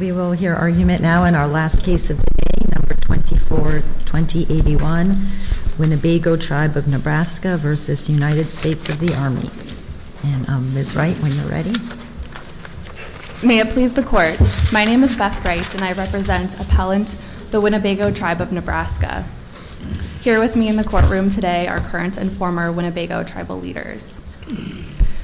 We will hear argument now in our last case of the day, No. 24-2081. Winnebago Tribe of Nebraska v. United States of the Army. Ms. Wright, when you're ready. May it please the Court. My name is Beth Wright and I represent Appellant the Winnebago Tribe of Nebraska. Here with me in the courtroom today are current and former Winnebago Tribal leaders.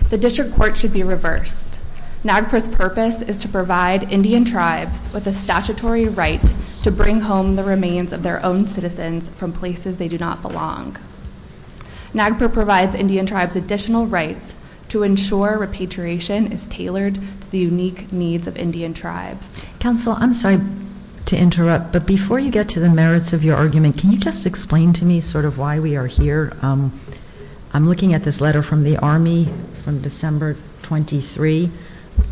The District Court should be reversed. NAGPRA's purpose is to provide Indian Tribes with a statutory right to bring home the remains of their own citizens from places they do not belong. NAGPRA provides Indian Tribes additional rights to ensure repatriation is tailored to the unique needs of Indian Tribes. Counsel, I'm sorry to interrupt, but before you get to the merits of your argument, can you just explain to me sort of why we are here? I'm looking at this letter from the Army from December 23,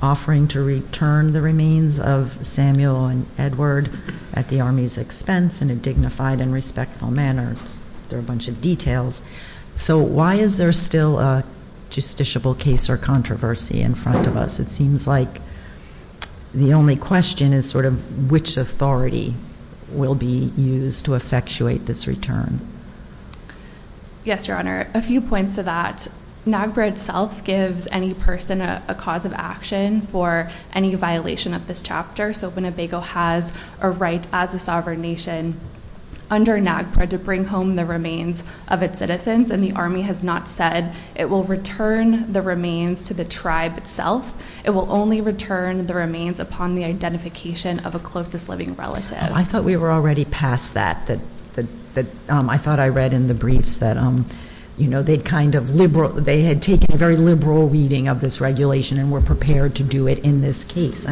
offering to return the remains of Samuel and Edward at the Army's expense in a dignified and respectful manner. There are a bunch of details. So why is there still a justiciable case or controversy in front of us? It seems like the only question is sort of which authority will be used to effectuate this return. Yes, Your Honor. A few points to that. NAGPRA itself gives any person a cause of action for any violation of this chapter, so Winnebago has a right as a sovereign nation under NAGPRA to bring home the remains of its citizens, and the Army has not said it will return the remains to the Tribe itself. It will only return the remains upon the identification of a closest living relative. I thought we were already past that. I thought I read in the briefs that they had taken a very liberal reading of this regulation and were prepared to do it in this case.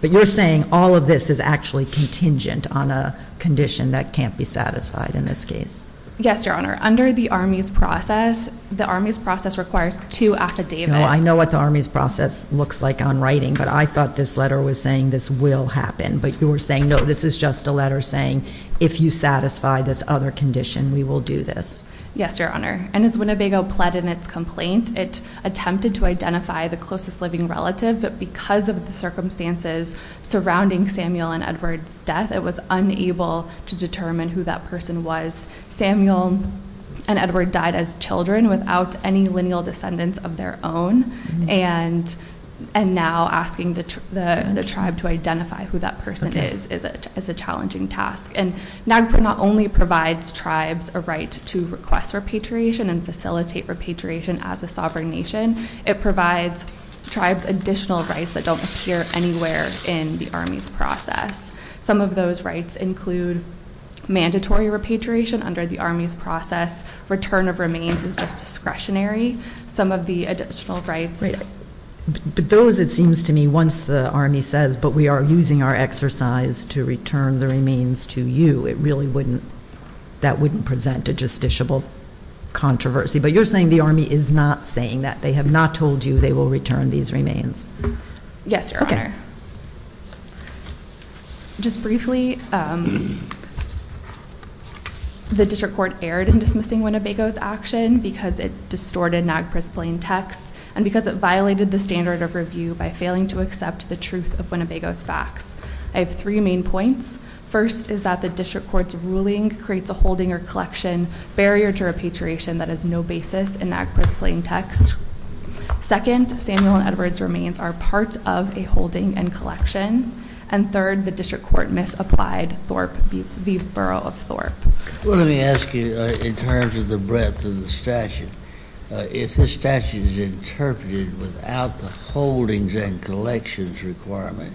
But you're saying all of this is actually contingent on a condition that can't be satisfied in this case. Yes, Your Honor. Under the Army's process, the Army's process requires two affidavits. I know what the Army's process looks like on writing, but I thought this letter was saying this will happen. But you were saying, no, this is just a letter saying if you satisfy this other condition, we will do this. Yes, Your Honor. And as Winnebago pled in its complaint, it attempted to identify the closest living relative, but because of the circumstances surrounding Samuel and Edward's death, it was unable to determine who that person was. Samuel and Edward died as children without any lineal descendants of their own, and now asking the Tribe to identify who that person is is a challenging task. And NAGPRA not only provides Tribes a right to request repatriation and facilitate repatriation as a sovereign nation, it provides Tribes additional rights that don't appear anywhere in the Army's process. Some of those rights include mandatory repatriation under the Army's process. Return of remains is just discretionary. Some of the additional rights. But those, it seems to me, once the Army says, but we are using our exercise to return the remains to you, it really wouldn't, that wouldn't present a justiciable controversy. But you're saying the Army is not saying that. They have not told you they will return these remains. Yes, Your Honor. Just briefly, the District Court erred in dismissing Winnebago's action because it distorted NAGPRA's plain text and because it violated the standard of review by failing to accept the truth of Winnebago's facts. I have three main points. First is that the District Court's ruling creates a holding or collection barrier to repatriation that has no basis in NAGPRA's plain text. Second, Samuel and Edward's remains are part of a holding and collection. And third, the District Court misapplied Thorpe v. Borough of Thorpe. Well, let me ask you in terms of the breadth of the statute. If the statute is interpreted without the holdings and collections requirement,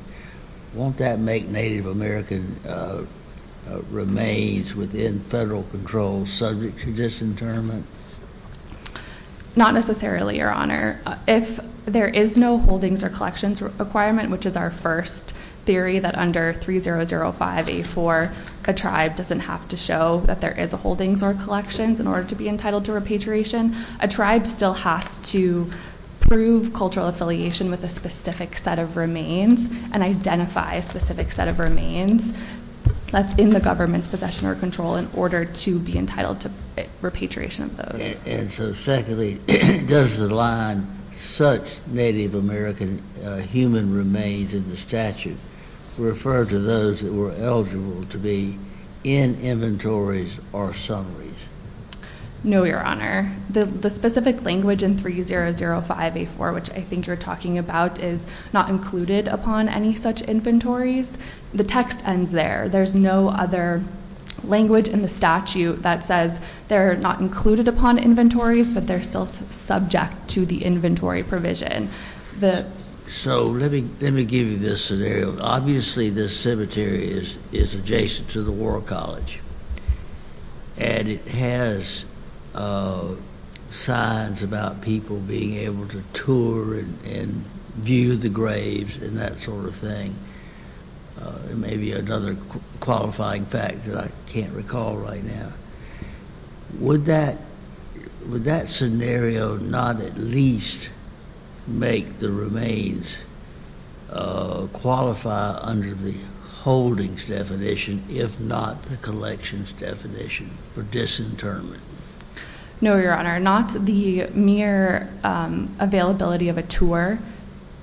won't that make Native American remains within federal control subject to disinterment? Not necessarily, Your Honor. If there is no holdings or collections requirement, which is our first theory, that under 3005A4 a tribe doesn't have to show that there is a holdings or collections in order to be entitled to repatriation, a tribe still has to prove cultural affiliation with a specific set of remains and identify a specific set of remains that's in the government's possession or control in order to be entitled to repatriation of those. And so secondly, does the line, such Native American human remains in the statute, refer to those that were eligible to be in inventories or summaries? No, Your Honor. The specific language in 3005A4, which I think you're talking about, is not included upon any such inventories. The text ends there. There's no other language in the statute that says they're not included upon inventories, but they're still subject to the inventory provision. So let me give you this scenario. Obviously, this cemetery is adjacent to the World College, and it has signs about people being able to tour and view the graves and that sort of thing. Maybe another qualifying fact that I can't recall right now. Would that scenario not at least make the remains qualify under the holdings definition, if not the collections definition for disinterment? No, Your Honor. Not the mere availability of a tour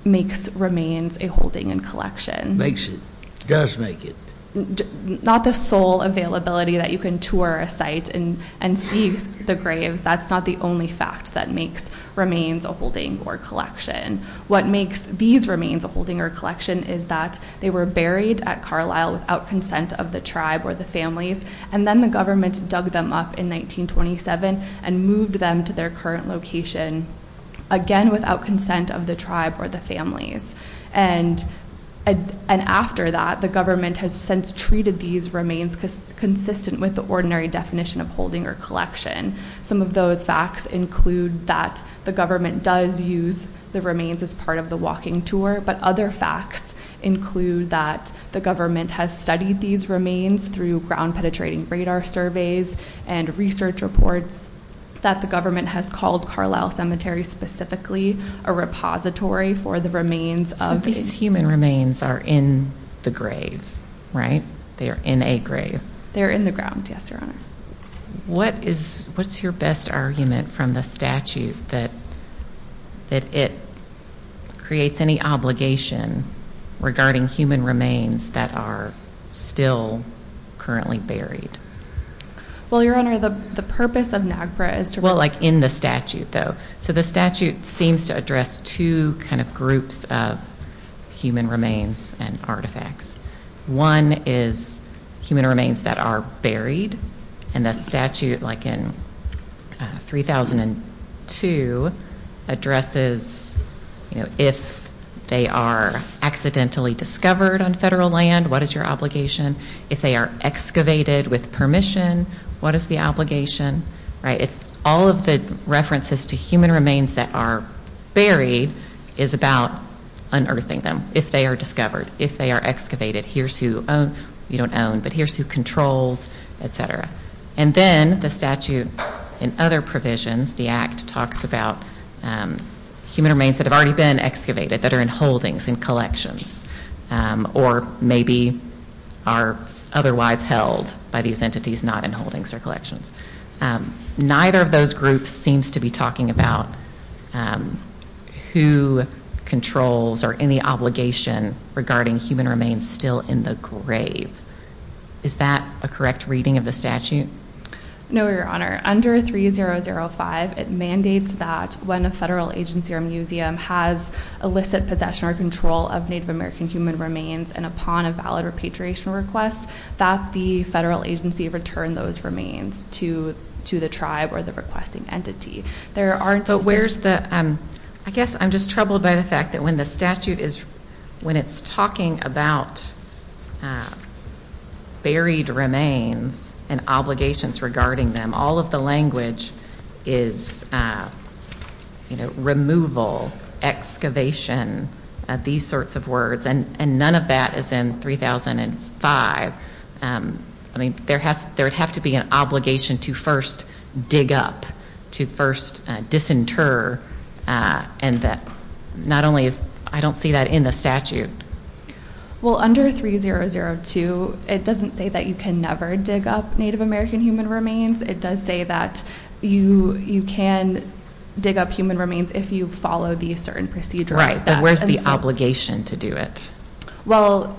makes remains a holding and collection. Makes it. Does make it. Not the sole availability that you can tour a site and see the graves. That's not the only fact that makes remains a holding or collection. What makes these remains a holding or collection is that they were buried at Carlisle without consent of the tribe or the families, and then the government dug them up in 1927 and moved them to their current location, again, without consent of the tribe or the families. And after that, the government has since treated these remains consistent with the ordinary definition of holding or collection. Some of those facts include that the government does use the remains as part of the walking tour, but other facts include that the government has studied these remains through ground-penetrating radar surveys and research reports that the government has called Carlisle Cemetery specifically a repository for the remains. So these human remains are in the grave, right? They are in a grave. They're in the ground, yes, Your Honor. What is your best argument from the statute that it creates any obligation regarding human remains that are still currently buried? Well, Your Honor, the purpose of NAGPRA is to- Well, like in the statute, though. So the statute seems to address two kind of groups of human remains and artifacts. One is human remains that are buried, and the statute, like in 3002, addresses, you know, if they are accidentally discovered on federal land, what is your obligation? If they are excavated with permission, what is the obligation, right? All of the references to human remains that are buried is about unearthing them, if they are discovered, if they are excavated, here's who you don't own, but here's who controls, et cetera. And then the statute in other provisions, the Act, talks about human remains that have already been excavated that are in holdings, in collections, or maybe are otherwise held by these entities not in holdings or collections. Neither of those groups seems to be talking about who controls or any obligation regarding human remains still in the grave. Is that a correct reading of the statute? No, Your Honor. Under 3005, it mandates that when a federal agency or museum has illicit possession or control of Native American human remains and upon a valid repatriation request that the federal agency return those remains to the tribe or the requesting entity. But where's the, I guess I'm just troubled by the fact that when the statute is, when it's talking about buried remains and obligations regarding them, all of the language is, you know, removal, excavation, these sorts of words, and none of that is in 3005. I mean, there would have to be an obligation to first dig up, to first disinter, and not only is, I don't see that in the statute. Well, under 3002, it doesn't say that you can never dig up Native American human remains. It does say that you can dig up human remains if you follow the certain procedural steps. So where's the obligation to do it? Well,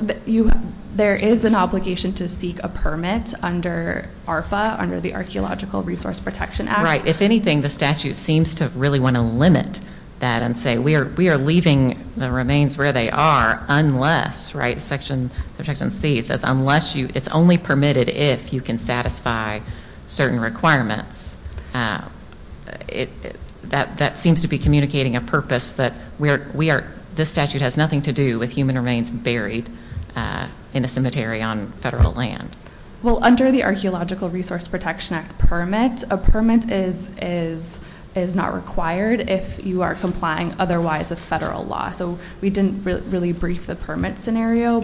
there is an obligation to seek a permit under ARFA, under the Archeological Resource Protection Act. Right. If anything, the statute seems to really want to limit that and say we are leaving the remains where they are unless, right, Section C says unless you, it's only permitted if you can satisfy certain requirements. That seems to be communicating a purpose that we are, this statute has nothing to do with human remains buried in a cemetery on federal land. Well, under the Archeological Resource Protection Act permit, a permit is not required if you are complying otherwise with federal law. So we didn't really brief the permit scenario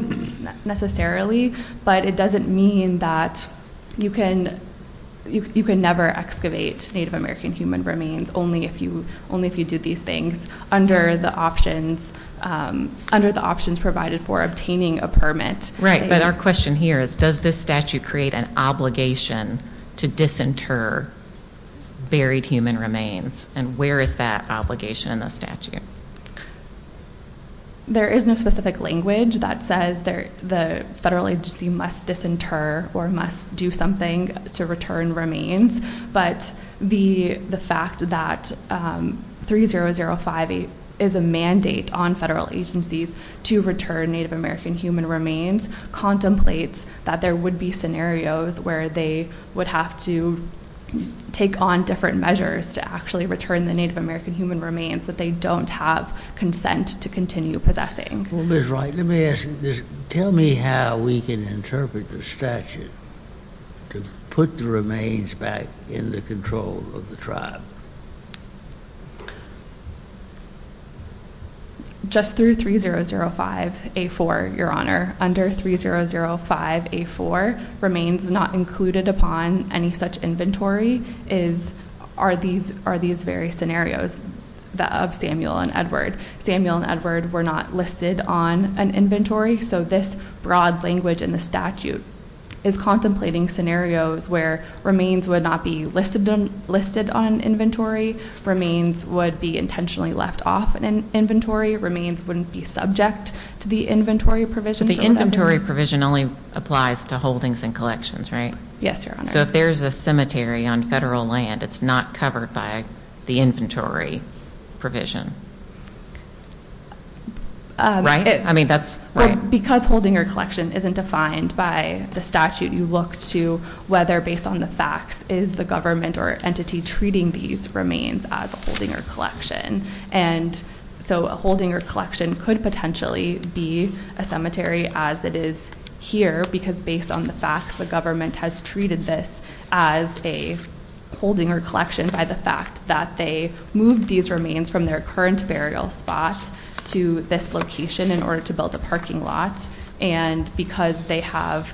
necessarily, but it doesn't mean that you can never excavate Native American human remains only if you do these things under the options provided for obtaining a permit. Right, but our question here is does this statute create an obligation to disinter buried human remains? And where is that obligation in the statute? There is no specific language that says the federal agency must disinter or must do something to return remains, but the fact that 30058 is a mandate on federal agencies to return Native American human remains contemplates that there would be scenarios where they would have to take on different measures to actually return the Native American human remains that they don't have consent to continue possessing. Well, Ms. Wright, tell me how we can interpret the statute to put the remains back in the control of the tribe. Just through 3005A4, Your Honor, under 3005A4, remains not included upon any such inventory are these various scenarios of Samuel and Edward. Samuel and Edward were not listed on an inventory, so this broad language in the statute is contemplating scenarios where remains would not be listed on an inventory, remains would be intentionally left off an inventory, remains wouldn't be subject to the inventory provision. But the inventory provision only applies to holdings and collections, right? Yes, Your Honor. So if there's a cemetery on federal land, it's not covered by the inventory provision, right? Well, because holding or collection isn't defined by the statute, you look to whether, based on the facts, is the government or entity treating these remains as a holding or collection. And so a holding or collection could potentially be a cemetery as it is here, because based on the facts, the government has treated this as a holding or collection by the fact that they moved these remains from their current burial spot to this location in order to build a parking lot. And because they have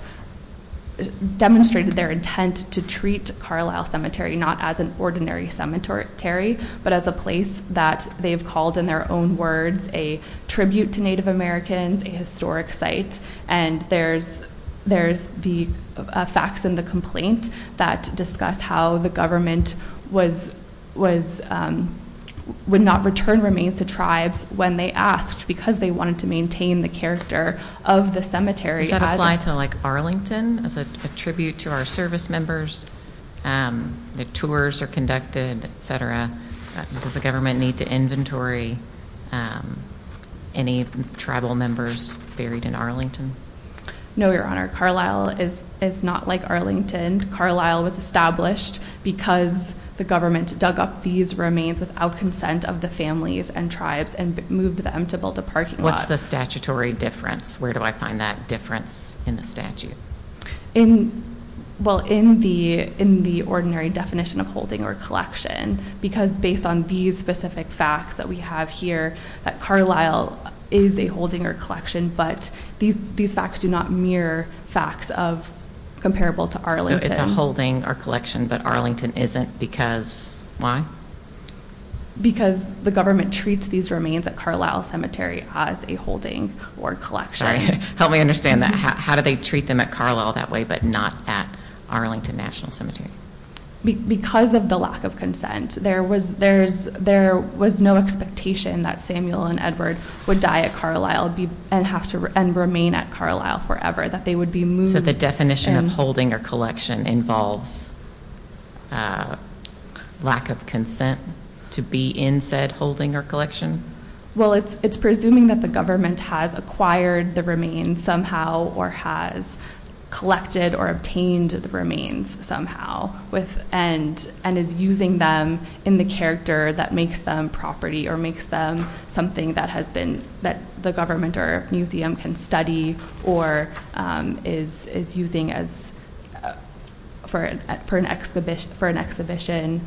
demonstrated their intent to treat Carlisle Cemetery not as an ordinary cemetery, but as a place that they've called in their own words a tribute to Native Americans, a historic site. And there's the facts in the complaint that discuss how the government would not return remains to tribes when they asked because they wanted to maintain the character of the cemetery. Does that apply to Arlington as a tribute to our service members? The tours are conducted, et cetera. Does the government need to inventory any tribal members buried in Arlington? No, Your Honor. Carlisle is not like Arlington. Carlisle was established because the government dug up these remains without consent of the families and tribes and moved them to build a parking lot. What's the statutory difference? Where do I find that difference in the statute? Well, in the ordinary definition of holding or collection, because based on these specific facts that we have here, that Carlisle is a holding or collection, but these facts do not mirror facts comparable to Arlington. So it's a holding or collection, but Arlington isn't because why? Because the government treats these remains at Carlisle Cemetery as a holding or collection. Help me understand that. How do they treat them at Carlisle that way but not at Arlington National Cemetery? Because of the lack of consent. There was no expectation that Samuel and Edward would die at Carlisle and remain at Carlisle forever, that they would be moved. So the definition of holding or collection involves lack of consent to be in said holding or collection? Well, it's presuming that the government has acquired the remains somehow or has collected or obtained the remains somehow and is using them in the character that makes them property or makes them something that the government or museum can study or is using for an exhibition.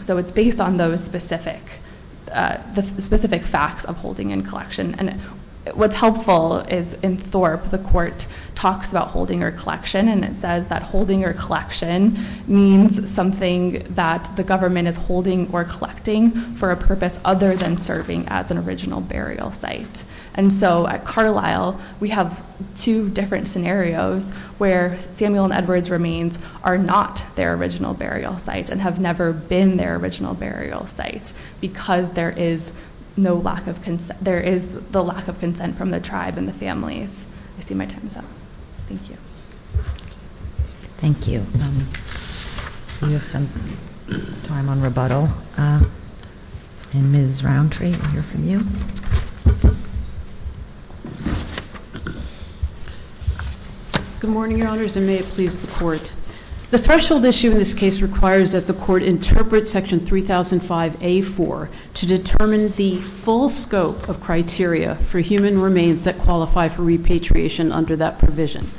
So it's based on those specific facts of holding and collection. And what's helpful is in Thorpe, the court talks about holding or collection and it says that holding or collection means something that the government is holding or collecting for a purpose other than serving as an original burial site. And so at Carlisle, we have two different scenarios where Samuel and Edward's remains are not their original burial site and have never been their original burial site because there is the lack of consent from the tribe and the families. I see my time is up. Thank you. Thank you. We have some time on rebuttal. And Ms. Roundtree, we'll hear from you. Good morning, Your Honors, and may it please the court. The threshold issue in this case requires that the court interpret Section 3005A.4 to determine the full scope of criteria for human remains that qualify for repatriation under that provision.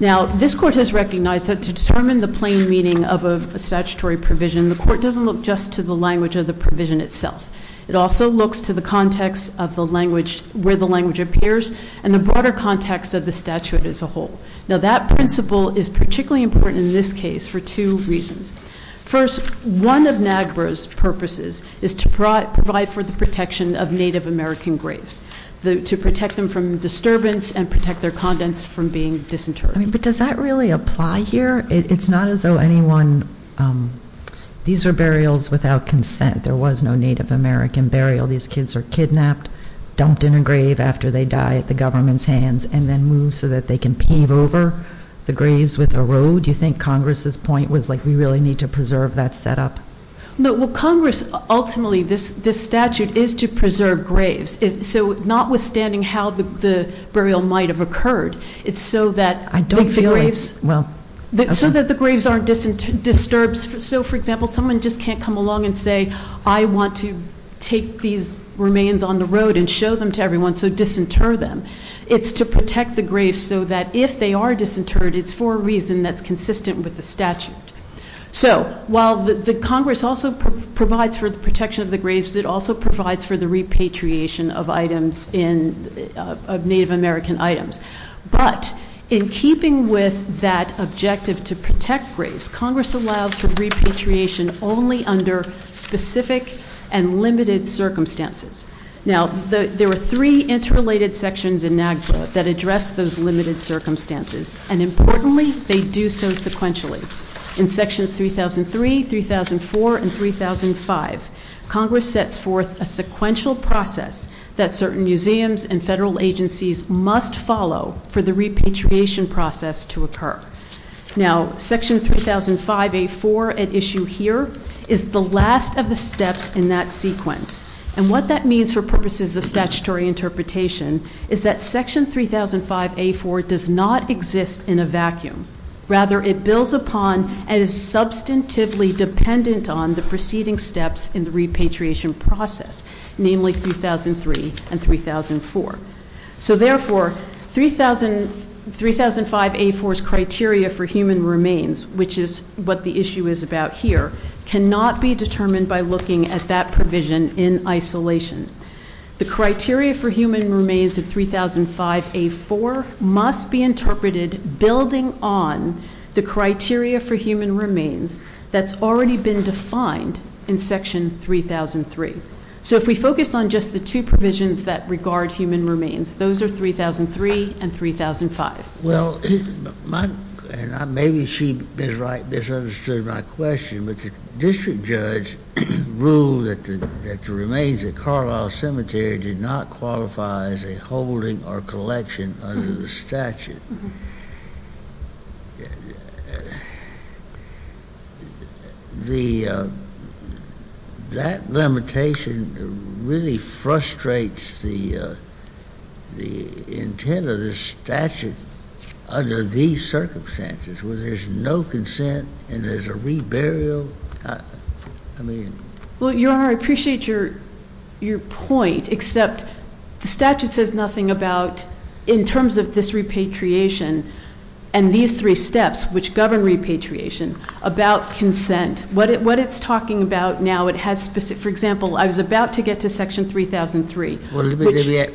Now, this court has recognized that to determine the plain meaning of a statutory provision, the court doesn't look just to the language of the provision itself. It also looks to the context of where the language appears and the broader context of the statute as a whole. Now, that principle is particularly important in this case for two reasons. First, one of NAGPRA's purposes is to provide for the protection of Native American graves, to protect them from disturbance and protect their contents from being disinterred. But does that really apply here? It's not as though anyone – these are burials without consent. There was no Native American burial. These kids are kidnapped, dumped in a grave after they die at the government's hands, and then moved so that they can pave over the graves with a road. Do you think Congress's point was, like, we really need to preserve that setup? No. Well, Congress, ultimately, this statute is to preserve graves. So notwithstanding how the burial might have occurred, it's so that the graves aren't disturbed. So, for example, someone just can't come along and say, I want to take these remains on the road and show them to everyone so disinter them. It's to protect the graves so that if they are disinterred, it's for a reason that's consistent with the statute. So while the Congress also provides for the protection of the graves, it also provides for the repatriation of Native American items. But in keeping with that objective to protect graves, Congress allows for repatriation only under specific and limited circumstances. Now, there are three interrelated sections in NAGPRA that address those limited circumstances, and importantly, they do so sequentially. In Sections 3003, 3004, and 3005, Congress sets forth a sequential process that certain museums and federal agencies must follow for the repatriation process to occur. Now, Section 3005A4 at issue here is the last of the steps in that sequence. And what that means for purposes of statutory interpretation is that Section 3005A4 does not exist in a vacuum. Rather, it builds upon and is substantively dependent on the preceding steps in the repatriation process, namely 3003 and 3004. So therefore, 3005A4's criteria for human remains, which is what the issue is about here, cannot be determined by looking at that provision in isolation. The criteria for human remains of 3005A4 must be interpreted building on the criteria for human remains that's already been defined in Section 3003. So if we focus on just the two provisions that regard human remains, those are 3003 and 3005. Well, maybe she misunderstood my question, but the district judge ruled that the remains at Carlisle Cemetery did not qualify as a holding or collection under the statute. That limitation really frustrates the intent of the statute under these circumstances, where there's no consent and there's a reburial. I mean... Well, Your Honor, I appreciate your point, except the statute says nothing about in terms of this repatriation and these three steps which govern repatriation about consent. What it's talking about now, it has specific... For example, I was about to get to Section 3003, which...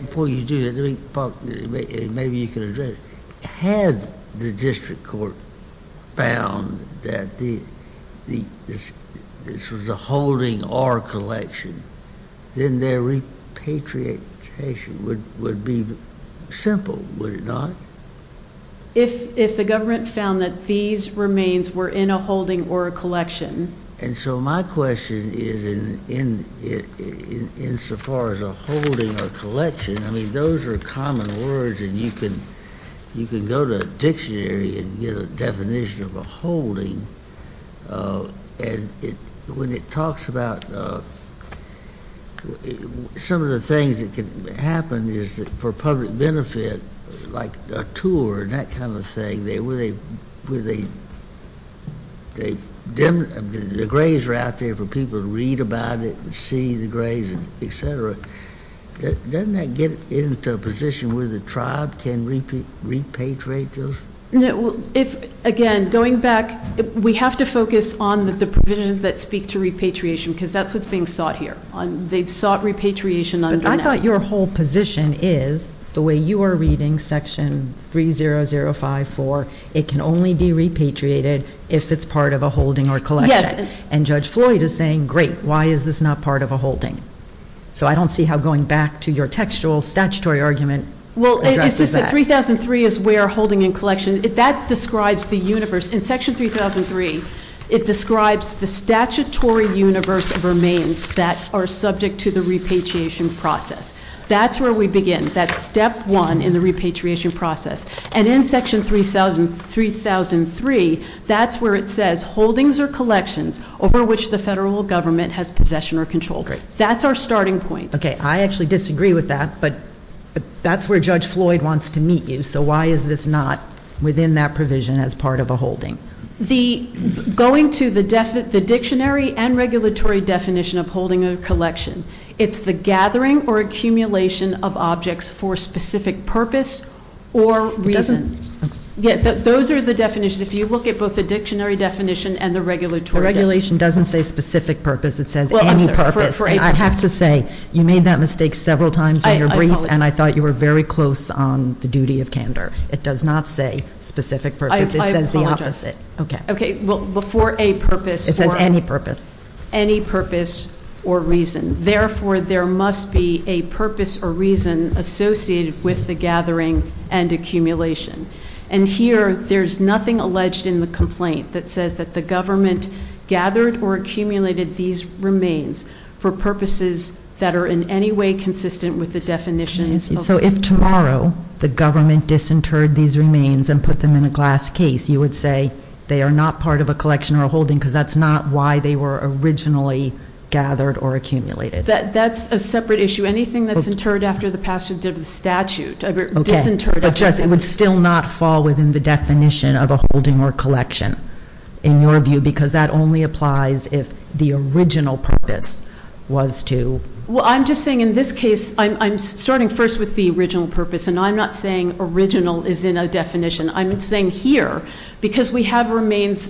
Before you do that, maybe you can address it. Had the district court found that this was a holding or a collection, then their repatriation would be simple, would it not? If the government found that these remains were in a holding or a collection... And so my question is insofar as a holding or a collection, I mean, those are common words and you can go to a dictionary and get a definition of a holding. And when it talks about some of the things that can happen is for public benefit, like a tour and that kind of thing, where the graves are out there for people to read about it and see the graves, et cetera, doesn't that get into a position where the tribe can repatriate those? Again, going back, we have to focus on the provisions that speak to repatriation because that's what's being sought here. They've sought repatriation under... But I thought your whole position is the way you are reading Section 30054, it can only be repatriated if it's part of a holding or a collection. And Judge Floyd is saying, great, why is this not part of a holding? So I don't see how going back to your textual statutory argument addresses that. Well, it's just that 3003 is where holding and collection, that describes the universe. In Section 3003, it describes the statutory universe of remains that are subject to the repatriation process. That's where we begin. That's step one in the repatriation process. And in Section 3003, that's where it says holdings or collections over which the federal government has possession or control. Great. That's our starting point. Okay, I actually disagree with that, but that's where Judge Floyd wants to meet you. So why is this not within that provision as part of a holding? Going to the dictionary and regulatory definition of holding or collection, it's the gathering or accumulation of objects for a specific purpose or reason. Those are the definitions. If you look at both the dictionary definition and the regulatory definition. The regulation doesn't say specific purpose. It says any purpose. And I have to say, you made that mistake several times in your brief, and I thought you were very close on the duty of candor. It does not say specific purpose. It says the opposite. Okay. Okay, well, for a purpose. It says any purpose. Any purpose or reason. Therefore, there must be a purpose or reason associated with the gathering and accumulation. And here, there's nothing alleged in the complaint that says that the government gathered or accumulated these remains for purposes that are in any way consistent with the definitions. So if tomorrow the government disinterred these remains and put them in a glass case, you would say they are not part of a collection or a holding because that's not why they were originally gathered or accumulated. That's a separate issue. Anything that's interred after the passage of the statute, disinterred. But, Jess, it would still not fall within the definition of a holding or collection in your view because that only applies if the original purpose was to. Well, I'm just saying in this case, I'm starting first with the original purpose, and I'm not saying original is in a definition. I'm saying here, because we have remains,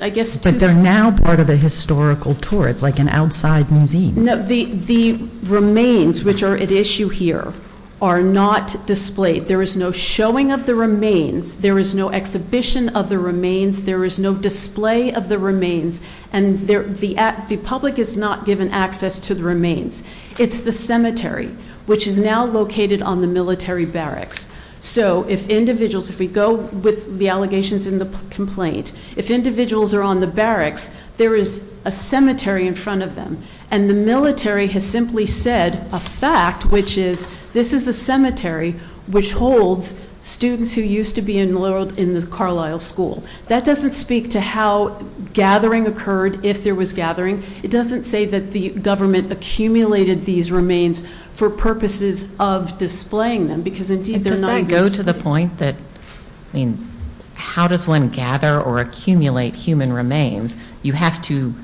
I guess. But they're now part of a historical tour. It's like an outside museum. The remains, which are at issue here, are not displayed. There is no showing of the remains. There is no exhibition of the remains. There is no display of the remains, and the public is not given access to the remains. It's the cemetery, which is now located on the military barracks. So if individuals, if we go with the allegations in the complaint, if individuals are on the barracks, there is a cemetery in front of them, and the military has simply said a fact, which is this is a cemetery, which holds students who used to be enrolled in the Carlisle School. That doesn't speak to how gathering occurred, if there was gathering. It doesn't say that the government accumulated these remains for purposes of displaying them, because indeed they're not used. Does that go to the point that, I mean, how does one gather or accumulate human remains? You have to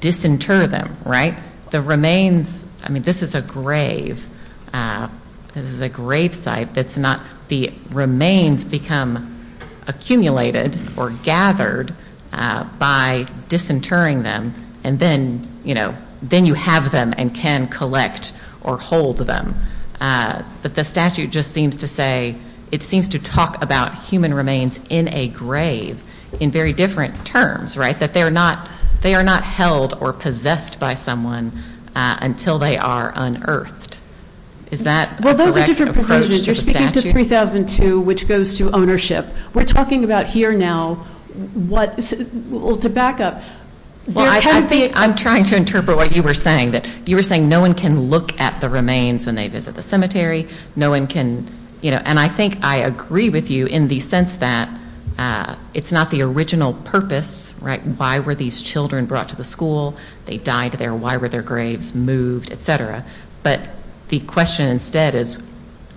disinter them, right? The remains, I mean, this is a grave. This is a grave site. The remains become accumulated or gathered by disinterring them, and then you have them and can collect or hold them. But the statute just seems to say, it seems to talk about human remains in a grave in very different terms, right, that they are not held or possessed by someone until they are unearthed. Is that a correct approach to the statute? Well, those are different provisions. You're speaking to 3002, which goes to ownership. We're talking about here now what, well, to back up. Well, I think I'm trying to interpret what you were saying, that you were saying no one can look at the remains when they visit the cemetery. No one can, you know, and I think I agree with you in the sense that it's not the original purpose, right? Why were these children brought to the school? They died there. Why were their graves moved, et cetera? But the question instead is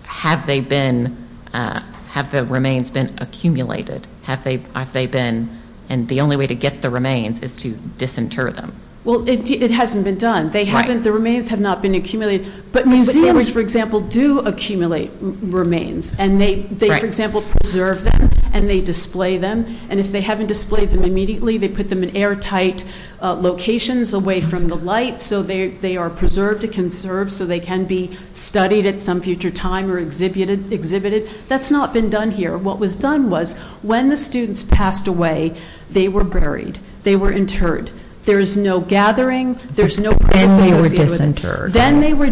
have they been, have the remains been accumulated? Have they been, and the only way to get the remains is to disinter them. Well, it hasn't been done. They haven't, the remains have not been accumulated. But museums, for example, do accumulate remains. And they, for example, preserve them and they display them. And if they haven't displayed them immediately, they put them in airtight locations away from the light so they are preserved and conserved so they can be studied at some future time or exhibited. That's not been done here. What was done was when the students passed away, they were buried. They were interred. There is no gathering. There is no process associated with it. Then they were disinterred. Then they were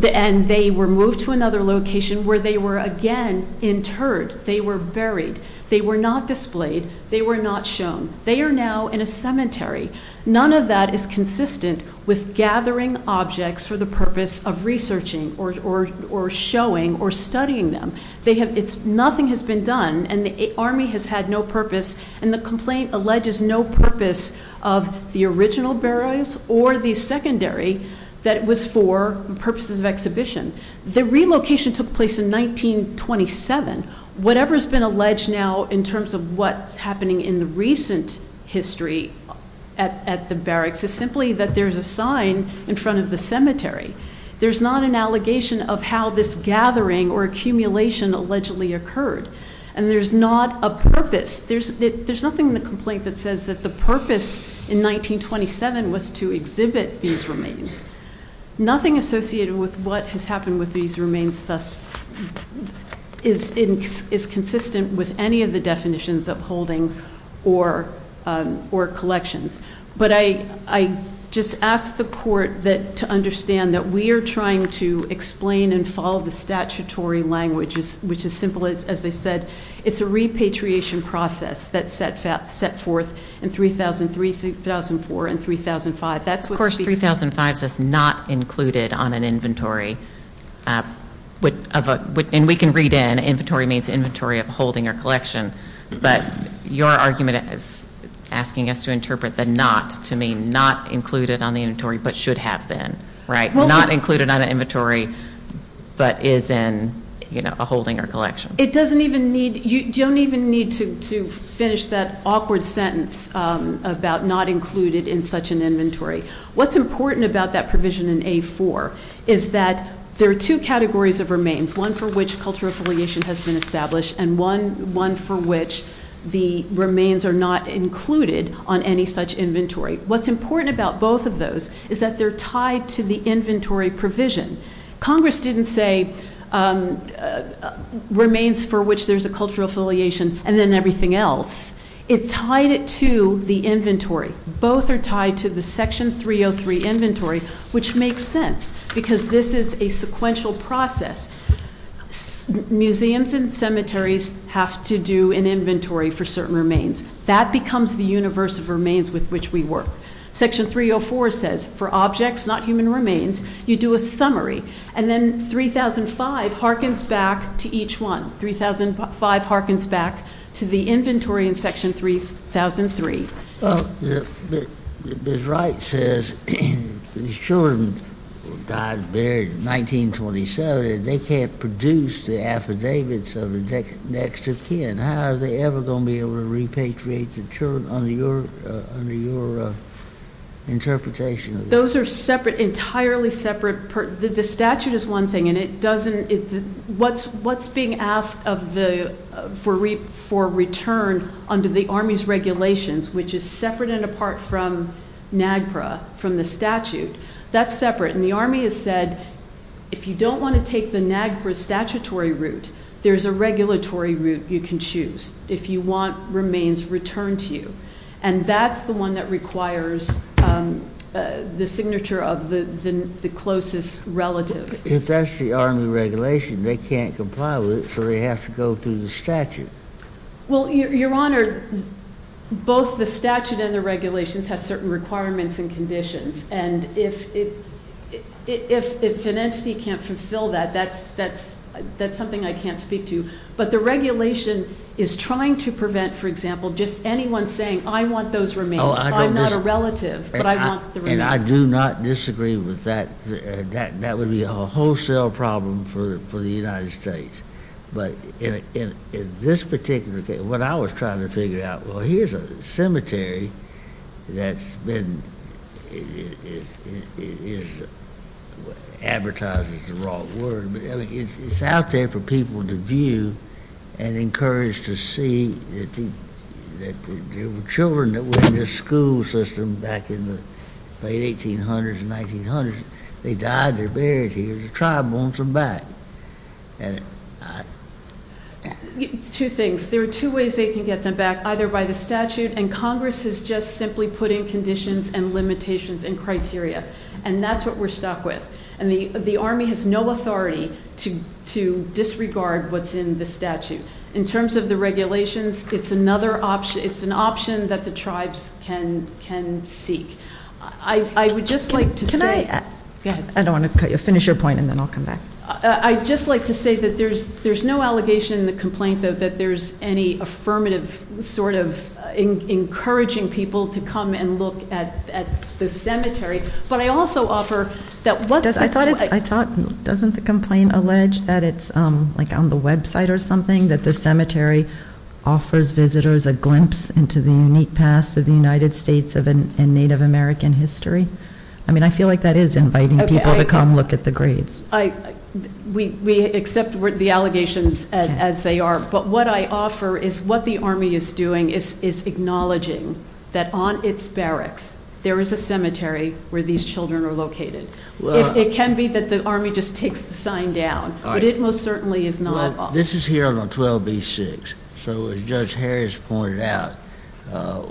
disinterred. And they were moved to another location where they were again interred. They were buried. They were not displayed. They were not shown. They are now in a cemetery. None of that is consistent with gathering objects for the purpose of researching or showing or studying them. They have, it's, nothing has been done. And the Army has had no purpose. And the complaint alleges no purpose of the original burials or the secondary that was for purposes of exhibition. The relocation took place in 1927. Whatever has been alleged now in terms of what's happening in the recent history at the barracks is simply that there's a sign in front of the cemetery. There's not an allegation of how this gathering or accumulation allegedly occurred. And there's not a purpose. There's nothing in the complaint that says that the purpose in 1927 was to exhibit these remains. Nothing associated with what has happened with these remains thus is consistent with any of the definitions of holding or collections. But I just ask the court to understand that we are trying to explain and follow the statutory languages, which is simple as they said. It's a repatriation process that's set forth in 3003, 3004, and 3005. Of course, 3005 says not included on an inventory. And we can read in, inventory means inventory of holding or collection. But your argument is asking us to interpret the not to mean not included on the inventory but should have been, right? Not included on an inventory but is in a holding or collection. It doesn't even need, you don't even need to finish that awkward sentence about not included in such an inventory. What's important about that provision in A4 is that there are two categories of remains, one for which cultural affiliation has been established and one for which the remains are not included on any such inventory. What's important about both of those is that they're tied to the inventory provision. Congress didn't say remains for which there's a cultural affiliation and then everything else. It tied it to the inventory. Both are tied to the section 303 inventory, which makes sense because this is a sequential process. Museums and cemeteries have to do an inventory for certain remains. That becomes the universe of remains with which we work. Section 304 says for objects, not human remains, you do a summary. And then 3005 harkens back to each one. 3005 harkens back to the inventory in section 3003. Ms. Wright says these children died buried in 1927 and they can't produce the affidavits of the next of kin. How are they ever going to be able to repatriate the children under your interpretation? Those are entirely separate. The statute is one thing and what's being asked for return under the Army's regulations, which is separate and apart from NAGPRA, from the statute, that's separate. And the Army has said if you don't want to take the NAGPRA statutory route, there's a regulatory route you can choose. If you want remains returned to you. And that's the one that requires the signature of the closest relative. If that's the Army regulation, they can't comply with it, so they have to go through the statute. Well, your honor, both the statute and the regulations have certain requirements and conditions. And if an entity can't fulfill that, that's something I can't speak to. But the regulation is trying to prevent, for example, just anyone saying I want those remains. I'm not a relative, but I want the remains. And I do not disagree with that. That would be a wholesale problem for the United States. But in this particular case, what I was trying to figure out, well, here's a cemetery that's been advertised as the wrong word. But it's out there for people to view and encouraged to see that the children that were in this school system back in the late 1800s and 1900s, they died, they're buried here, the tribe wants them back. Two things. There are two ways they can get them back, either by the statute, and Congress has just simply put in conditions and limitations and criteria. And that's what we're stuck with. And the Army has no authority to disregard what's in the statute. In terms of the regulations, it's an option that the tribes can seek. I would just like to say- Can I- Go ahead. I don't want to cut you off. Finish your point, and then I'll come back. I'd just like to say that there's no allegation in the complaint, though, that there's any affirmative sort of encouraging people to come and look at the cemetery. But I also offer that what- I thought, doesn't the complaint allege that it's like on the website or something, that the cemetery offers visitors a glimpse into the unique past of the United States and Native American history? I mean, I feel like that is inviting people to come look at the graves. We accept the allegations as they are, but what I offer is what the Army is doing is acknowledging that on its barracks, there is a cemetery where these children are located. It can be that the Army just takes the sign down, but it most certainly is not- This is here on the 12b-6, so as Judge Harris pointed out,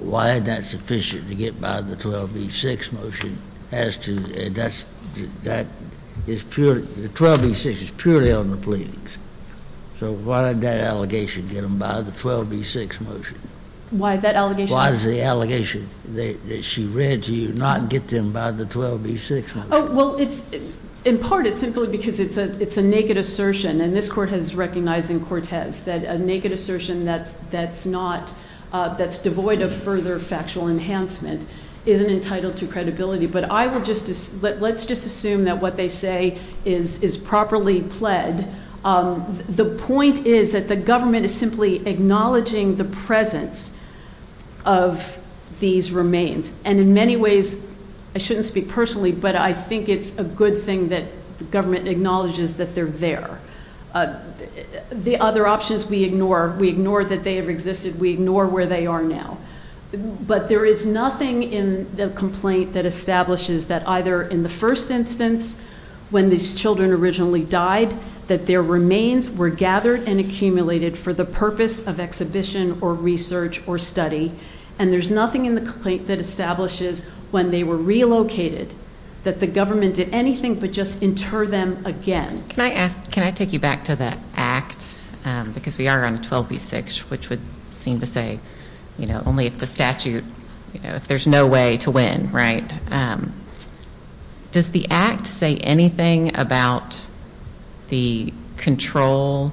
why is that sufficient to get by the 12b-6 motion as to- The 12b-6 is purely on the pleadings. So why did that allegation get them by the 12b-6 motion? Why that allegation- Why does the allegation that she read to you not get them by the 12b-6 motion? Well, in part, it's simply because it's a naked assertion, and this Court has recognized in Cortez that a naked assertion that's devoid of further factual enhancement isn't entitled to credibility. But let's just assume that what they say is properly pled. The point is that the government is simply acknowledging the presence of these remains, and in many ways- I shouldn't speak personally, but I think it's a good thing that the government acknowledges that they're there. The other options we ignore. We ignore that they have existed. We ignore where they are now. But there is nothing in the complaint that establishes that either in the first instance, when these children originally died, that their remains were gathered and accumulated for the purpose of exhibition or research or study, and there's nothing in the complaint that establishes when they were relocated that the government did anything but just inter them again. Can I take you back to that act? Because we are on 12b-6, which would seem to say, you know, only if the statute- if there's no way to win, right? Does the act say anything about the control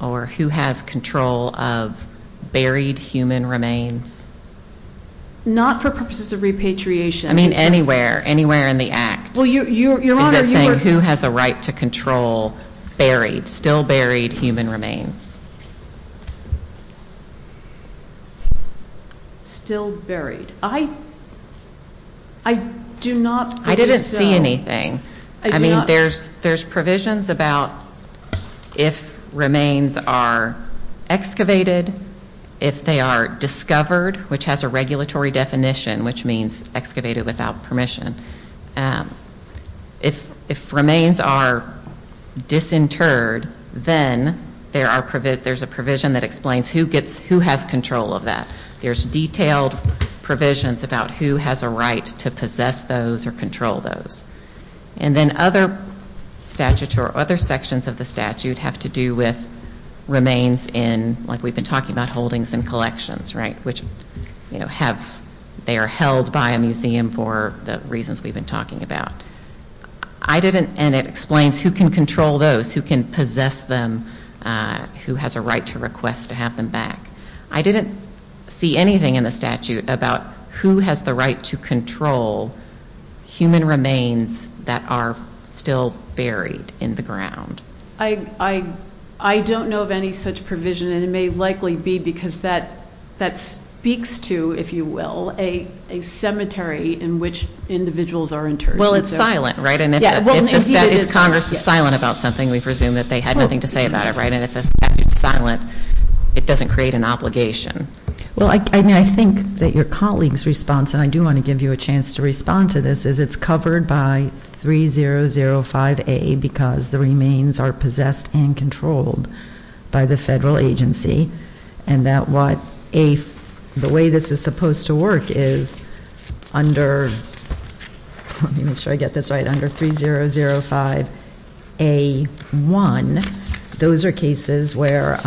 or who has control of buried human remains? Not for purposes of repatriation. I mean anywhere. Anywhere in the act. Well, Your Honor, you were- Is it saying who has a right to control buried, still buried human remains? Still buried. I do not- I didn't see anything. I mean there's provisions about if remains are excavated, if they are discovered, which has a regulatory definition, which means excavated without permission. If remains are disinterred, then there's a provision that explains who has control of that. There's detailed provisions about who has a right to possess those or control those. And then other statutes or other sections of the statute have to do with remains in, like we've been talking about, holdings and collections, right? Which, you know, have- they are held by a museum for the reasons we've been talking about. I didn't- and it explains who can control those, who can possess them, who has a right to request to have them back. I didn't see anything in the statute about who has the right to control human remains that are still buried in the ground. I don't know of any such provision, and it may likely be because that speaks to, if you will, a cemetery in which individuals are interred. Well, it's silent, right? And if Congress is silent about something, we presume that they had nothing to say about it, right? And if the statute's silent, it doesn't create an obligation. Well, I mean, I think that your colleague's response, and I do want to give you a chance to respond to this, is it's covered by 3005A because the remains are possessed and controlled by the federal agency, and that what a- the way this is supposed to work is under- let me make sure I get this right- under 3005A1, those are cases where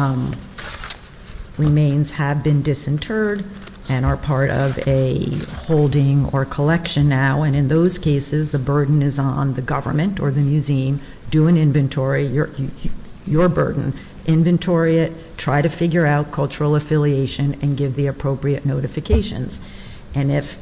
remains have been disinterred and are part of a holding or collection now, and in those cases, the burden is on the government or the museum. Do an inventory, your burden. Inventory it, try to figure out cultural affiliation, and give the appropriate notifications. And if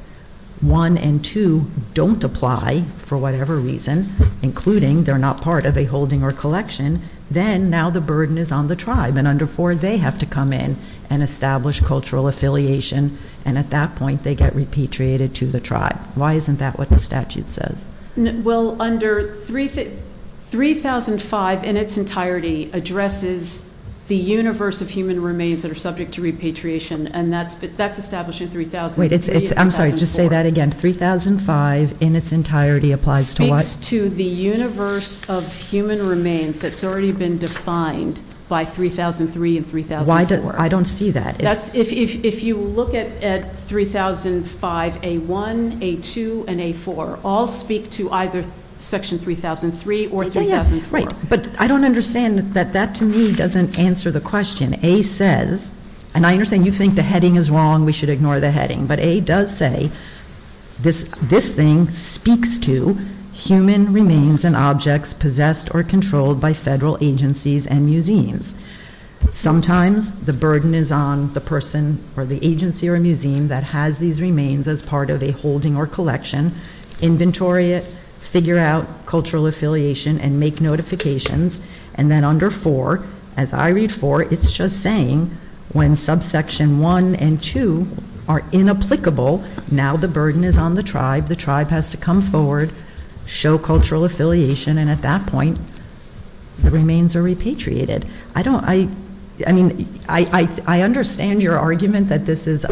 one and two don't apply for whatever reason, including they're not part of a holding or collection, then now the burden is on the tribe, and under four, they have to come in and establish cultural affiliation, and at that point, they get repatriated to the tribe. Why isn't that what the statute says? Well, under 3005 in its entirety addresses the universe of human remains that are subject to repatriation, and that's establishing 3004. Wait, it's- I'm sorry, just say that again. 3005 in its entirety applies to what? Speaks to the universe of human remains that's already been defined by 3003 and 3004. Why do- I don't see that. That's- if you look at 3005A1, A2, and A4, all speak to either section 3003 or 3004. Oh, yeah, right. But I don't understand that that to me doesn't answer the question. A says, and I understand you think the heading is wrong, we should ignore the heading, but A does say this thing speaks to human remains and objects possessed or controlled by federal agencies and museums. Sometimes the burden is on the person or the agency or museum that has these remains as part of a holding or collection, inventory it, figure out cultural affiliation, and make notifications, and then under 4, as I read 4, it's just saying when subsection 1 and 2 are inapplicable, now the burden is on the tribe, the tribe has to come forward, show cultural affiliation, and at that point the remains are repatriated. I don't- I mean, I understand your argument that this is-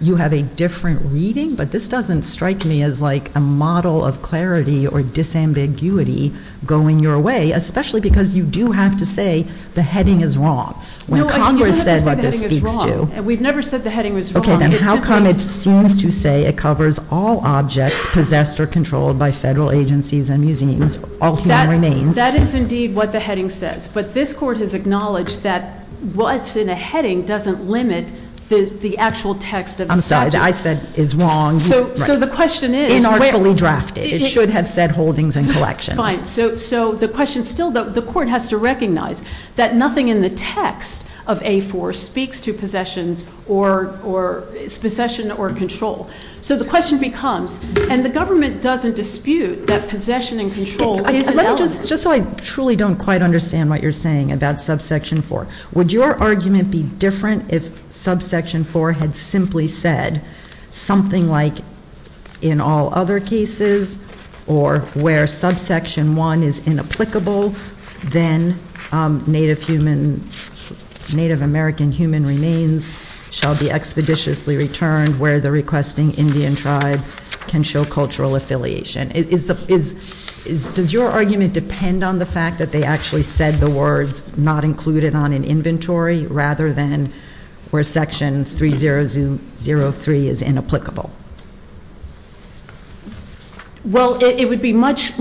you have a different reading, but this doesn't strike me as like a model of clarity or disambiguity going your way, especially because you do have to say the heading is wrong. When Congress said what this speaks to- We've never said the heading was wrong. Okay, then how come it seems to say it covers all objects possessed or controlled by federal agencies and museums, all human remains? That is indeed what the heading says, but this court has acknowledged that what's in a heading doesn't limit the actual text of the statute. What I said is wrong. So the question is- Inartfully drafted. It should have said holdings and collections. Fine. So the question still- the court has to recognize that nothing in the text of A4 speaks to possessions or possession or control. So the question becomes- and the government doesn't dispute that possession and control is- Just so I truly don't quite understand what you're saying about subsection 4, would your argument be different if subsection 4 had simply said something like in all other cases or where subsection 1 is inapplicable, then Native American human remains shall be expeditiously returned where the requesting Indian tribe can show cultural affiliation. Does your argument depend on the fact that they actually said the words not included on an inventory rather than where section 3003 is inapplicable? Well, it would be much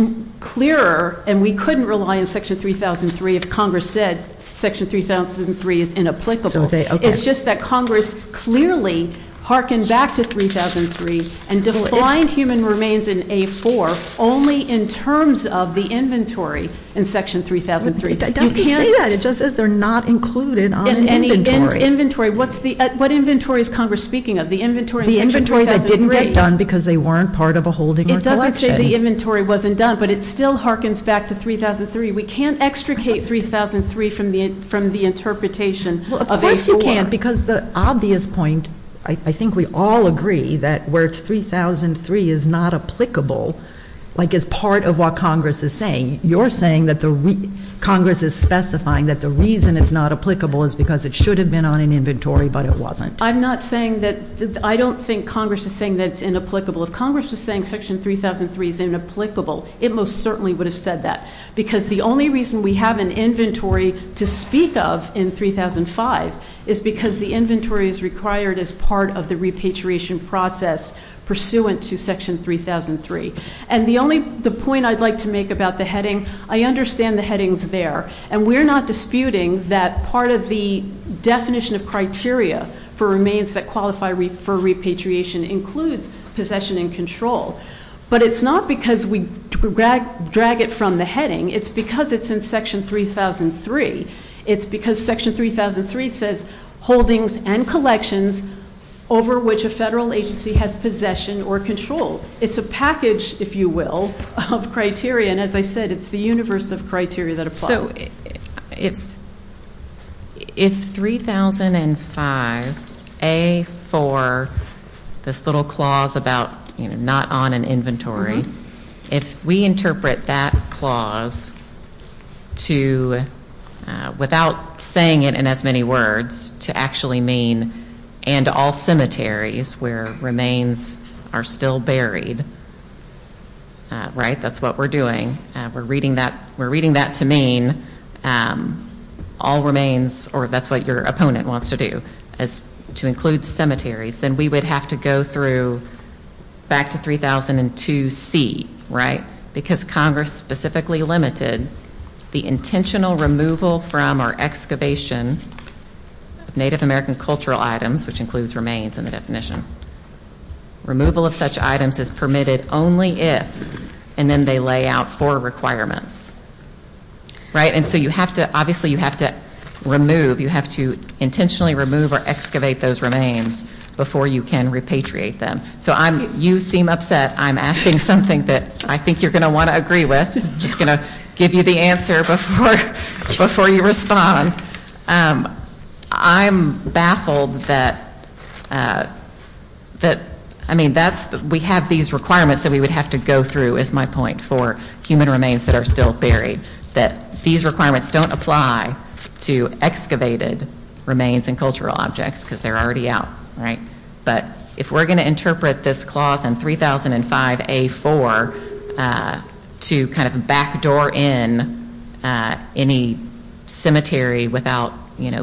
clearer, and we couldn't rely on section 3003 if Congress said section 3003 is inapplicable. It's just that Congress clearly harkened back to 3003 and defined human remains in A4 only in terms of the inventory in section 3003. It doesn't say that. It just says they're not included on an inventory. In an inventory. What inventory is Congress speaking of? The inventory in section 3003? The inventory that didn't get done because they weren't part of a holding or collection. It doesn't say the inventory wasn't done, but it still harkens back to 3003. We can't extricate 3003 from the interpretation of A4. Well, of course you can't, because the obvious point, I think we all agree that where 3003 is not applicable, like as part of what Congress is saying, you're saying that Congress is specifying that the reason it's not applicable is because it should have been on an inventory, but it wasn't. I'm not saying that. I don't think Congress is saying that it's inapplicable. If Congress was saying section 3003 is inapplicable, it most certainly would have said that because the only reason we have an inventory to speak of in 3005 is because the inventory is required as part of the repatriation process pursuant to section 3003. And the only point I'd like to make about the heading, I understand the headings there, and we're not disputing that part of the definition of criteria for remains that qualify for repatriation includes possession and control. But it's not because we drag it from the heading. It's because it's in section 3003. It's because section 3003 says holdings and collections over which a federal agency has possession or control. It's a package, if you will, of criteria, and as I said, it's the universe of criteria that apply. So if 3005A4, this little clause about not on an inventory, if we interpret that clause to, without saying it in as many words, to actually mean and all cemeteries where remains are still buried, right? That's what we're doing. We're reading that to mean all remains, or if that's what your opponent wants to do, is to include cemeteries. Then we would have to go through back to 3002C, right? Because Congress specifically limited the intentional removal from or excavation of Native American cultural items, which includes remains in the definition. Removal of such items is permitted only if, and then they lay out four requirements. Right? And so you have to, obviously you have to remove, you have to intentionally remove or excavate those remains before you can repatriate them. So you seem upset. I'm asking something that I think you're going to want to agree with. I'm just going to give you the answer before you respond. I'm baffled that, I mean, we have these requirements that we would have to go through, is my point, for human remains that are still buried, that these requirements don't apply to excavated remains and cultural objects, because they're already out, right? But if we're going to interpret this clause in 3005A.4 to kind of backdoor in any cemetery without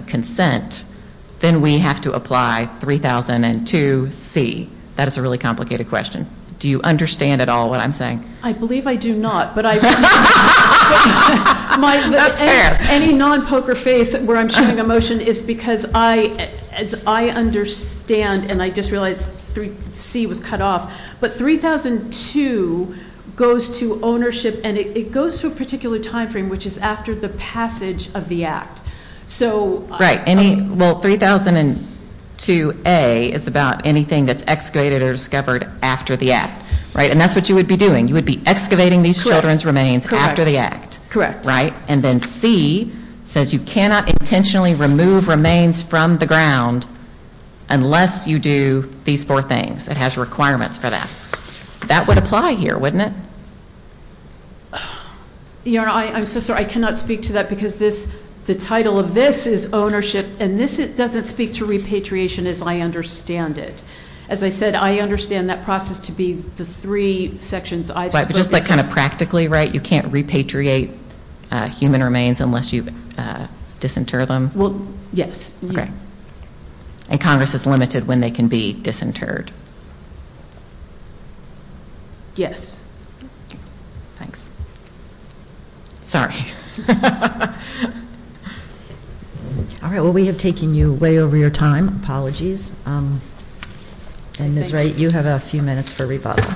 consent, then we have to apply 3002C. That is a really complicated question. Do you understand at all what I'm saying? I believe I do not. That's fair. Any non-poker face where I'm shooting a motion is because I, as I understand, and I just realized C was cut off, but 3002 goes to ownership, and it goes to a particular time frame, which is after the passage of the act. Right. Well, 3002A is about anything that's excavated or discovered after the act. Right? And that's what you would be doing. You would be excavating these children's remains after the act. Right? And then C says you cannot intentionally remove remains from the ground unless you do these four things. It has requirements for that. That would apply here, wouldn't it? I'm so sorry. I cannot speak to that because the title of this is ownership, and this doesn't speak to repatriation as I understand it. As I said, I understand that process to be the three sections I've spoken to. But just like kind of practically, right, you can't repatriate human remains unless you disinter them? Well, yes. Okay. And Congress is limited when they can be disinterred. Yes. Thanks. Sorry. All right. Well, we have taken you way over your time. Apologies. And Ms. Wright, you have a few minutes for rebuttal.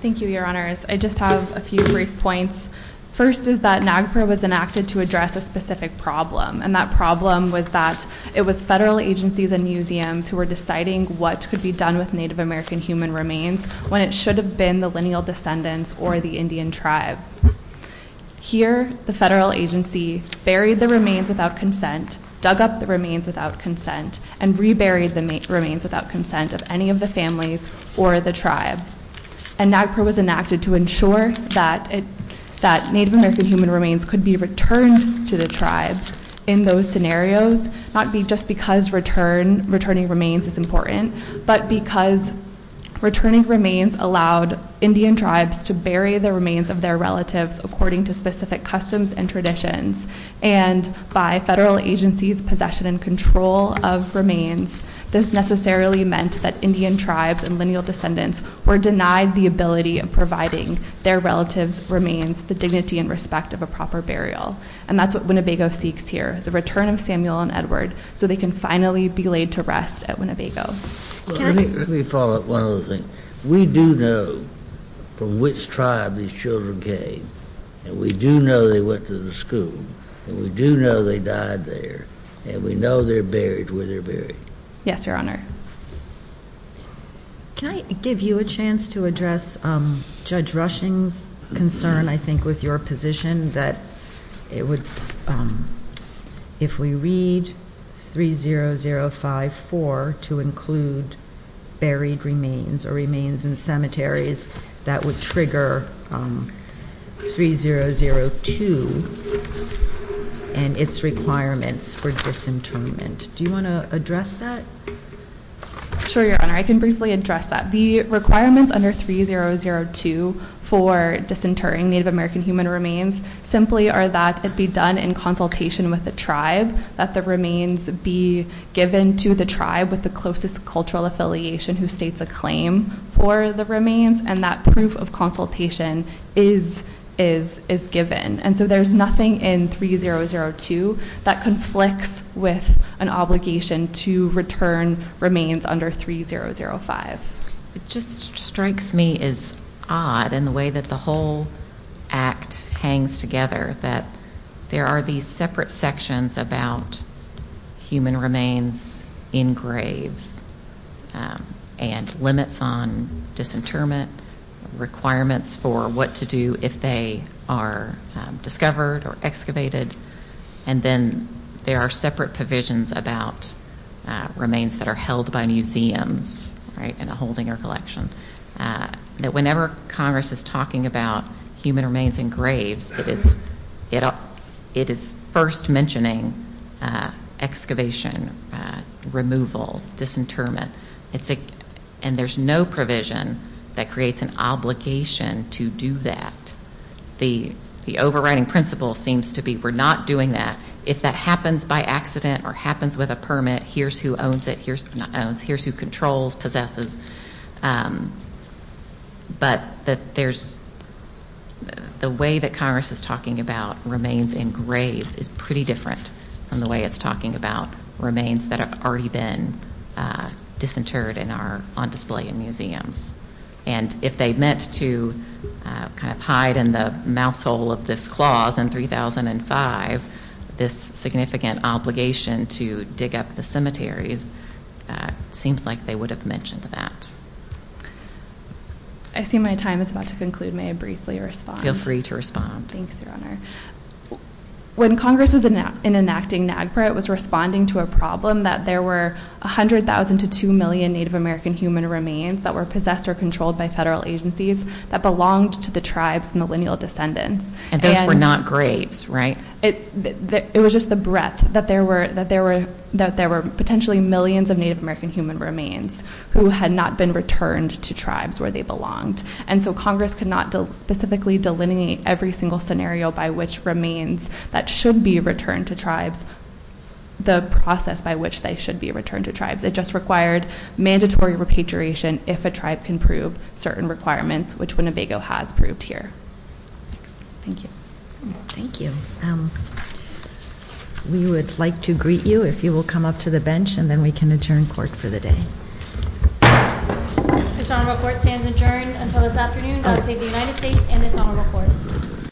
Thank you, Your Honors. I just have a few brief points. First is that NAGPRA was enacted to address a specific problem. And that problem was that it was federal agencies and museums who were deciding what could be done with Native American human remains when it should have been the lineal descendants or the Indian tribe. Here, the federal agency buried the remains without consent, dug up the remains without consent, and reburied the remains without consent of any of the families or the tribe. And NAGPRA was enacted to ensure that Native American human remains could be returned to the tribes. In those scenarios, not just because returning remains is important, but because returning remains allowed Indian tribes to bury the remains of their relatives according to specific customs and traditions. And by federal agencies' possession and control of remains, this necessarily meant that Indian tribes and lineal descendants were denied the ability of providing their relatives' remains the dignity and respect of a proper burial. And that's what Winnebago seeks here, the return of Samuel and Edward, so they can finally be laid to rest at Winnebago. Let me follow up one other thing. We do know from which tribe these children came. And we do know they went to the school. And we do know they died there. And we know they're buried where they're buried. Yes, Your Honor. Can I give you a chance to address Judge Rushing's concern, I think, with your position, that if we read 30054 to include buried remains or remains in cemeteries, that would trigger 3002 and its requirements for disinterment. Do you want to address that? Sure, Your Honor. I can briefly address that. The requirements under 3002 for disinterring Native American human remains simply are that it be done in consultation with the tribe, that the remains be given to the tribe with the closest cultural affiliation who states a claim for the remains, and that proof of consultation is given. And so there's nothing in 3002 that conflicts with an obligation to return remains under 3005. It just strikes me as odd in the way that the whole act hangs together, that there are these separate sections about human remains in graves and limits on disinterment, requirements for what to do if they are discovered or excavated, and then there are separate provisions about remains that are held by museums, right, in a holding or collection. That whenever Congress is talking about human remains in graves, it is first mentioning excavation, removal, disinterment, and there's no provision that creates an obligation to do that. The overriding principle seems to be we're not doing that. If that happens by accident or happens with a permit, here's who owns it. Here's who controls, possesses. But the way that Congress is talking about remains in graves is pretty different from the way it's talking about remains that have already been disinterred and are on display in museums. And if they meant to kind of hide in the mouth hole of this clause in 3005, this significant obligation to dig up the cemeteries, it seems like they would have mentioned that. I see my time is about to conclude. May I briefly respond? Feel free to respond. Thanks, Your Honor. When Congress was enacting NAGPRA, it was responding to a problem that there were 100,000 to 2 million Native American human remains that were possessed or controlled by federal agencies that belonged to the tribes' millennial descendants. And those were not graves, right? It was just the breadth that there were potentially millions of Native American human remains who had not been returned to tribes where they belonged. And so Congress could not specifically delineate every single scenario by which remains that should be returned to tribes, the process by which they should be returned to tribes. It just required mandatory repatriation if a tribe can prove certain requirements, which Winnebago has proved here. Thanks. Thank you. Thank you. We would like to greet you if you will come up to the bench, and then we can adjourn court for the day. This honorable court stands adjourned until this afternoon. God save the United States and this honorable court.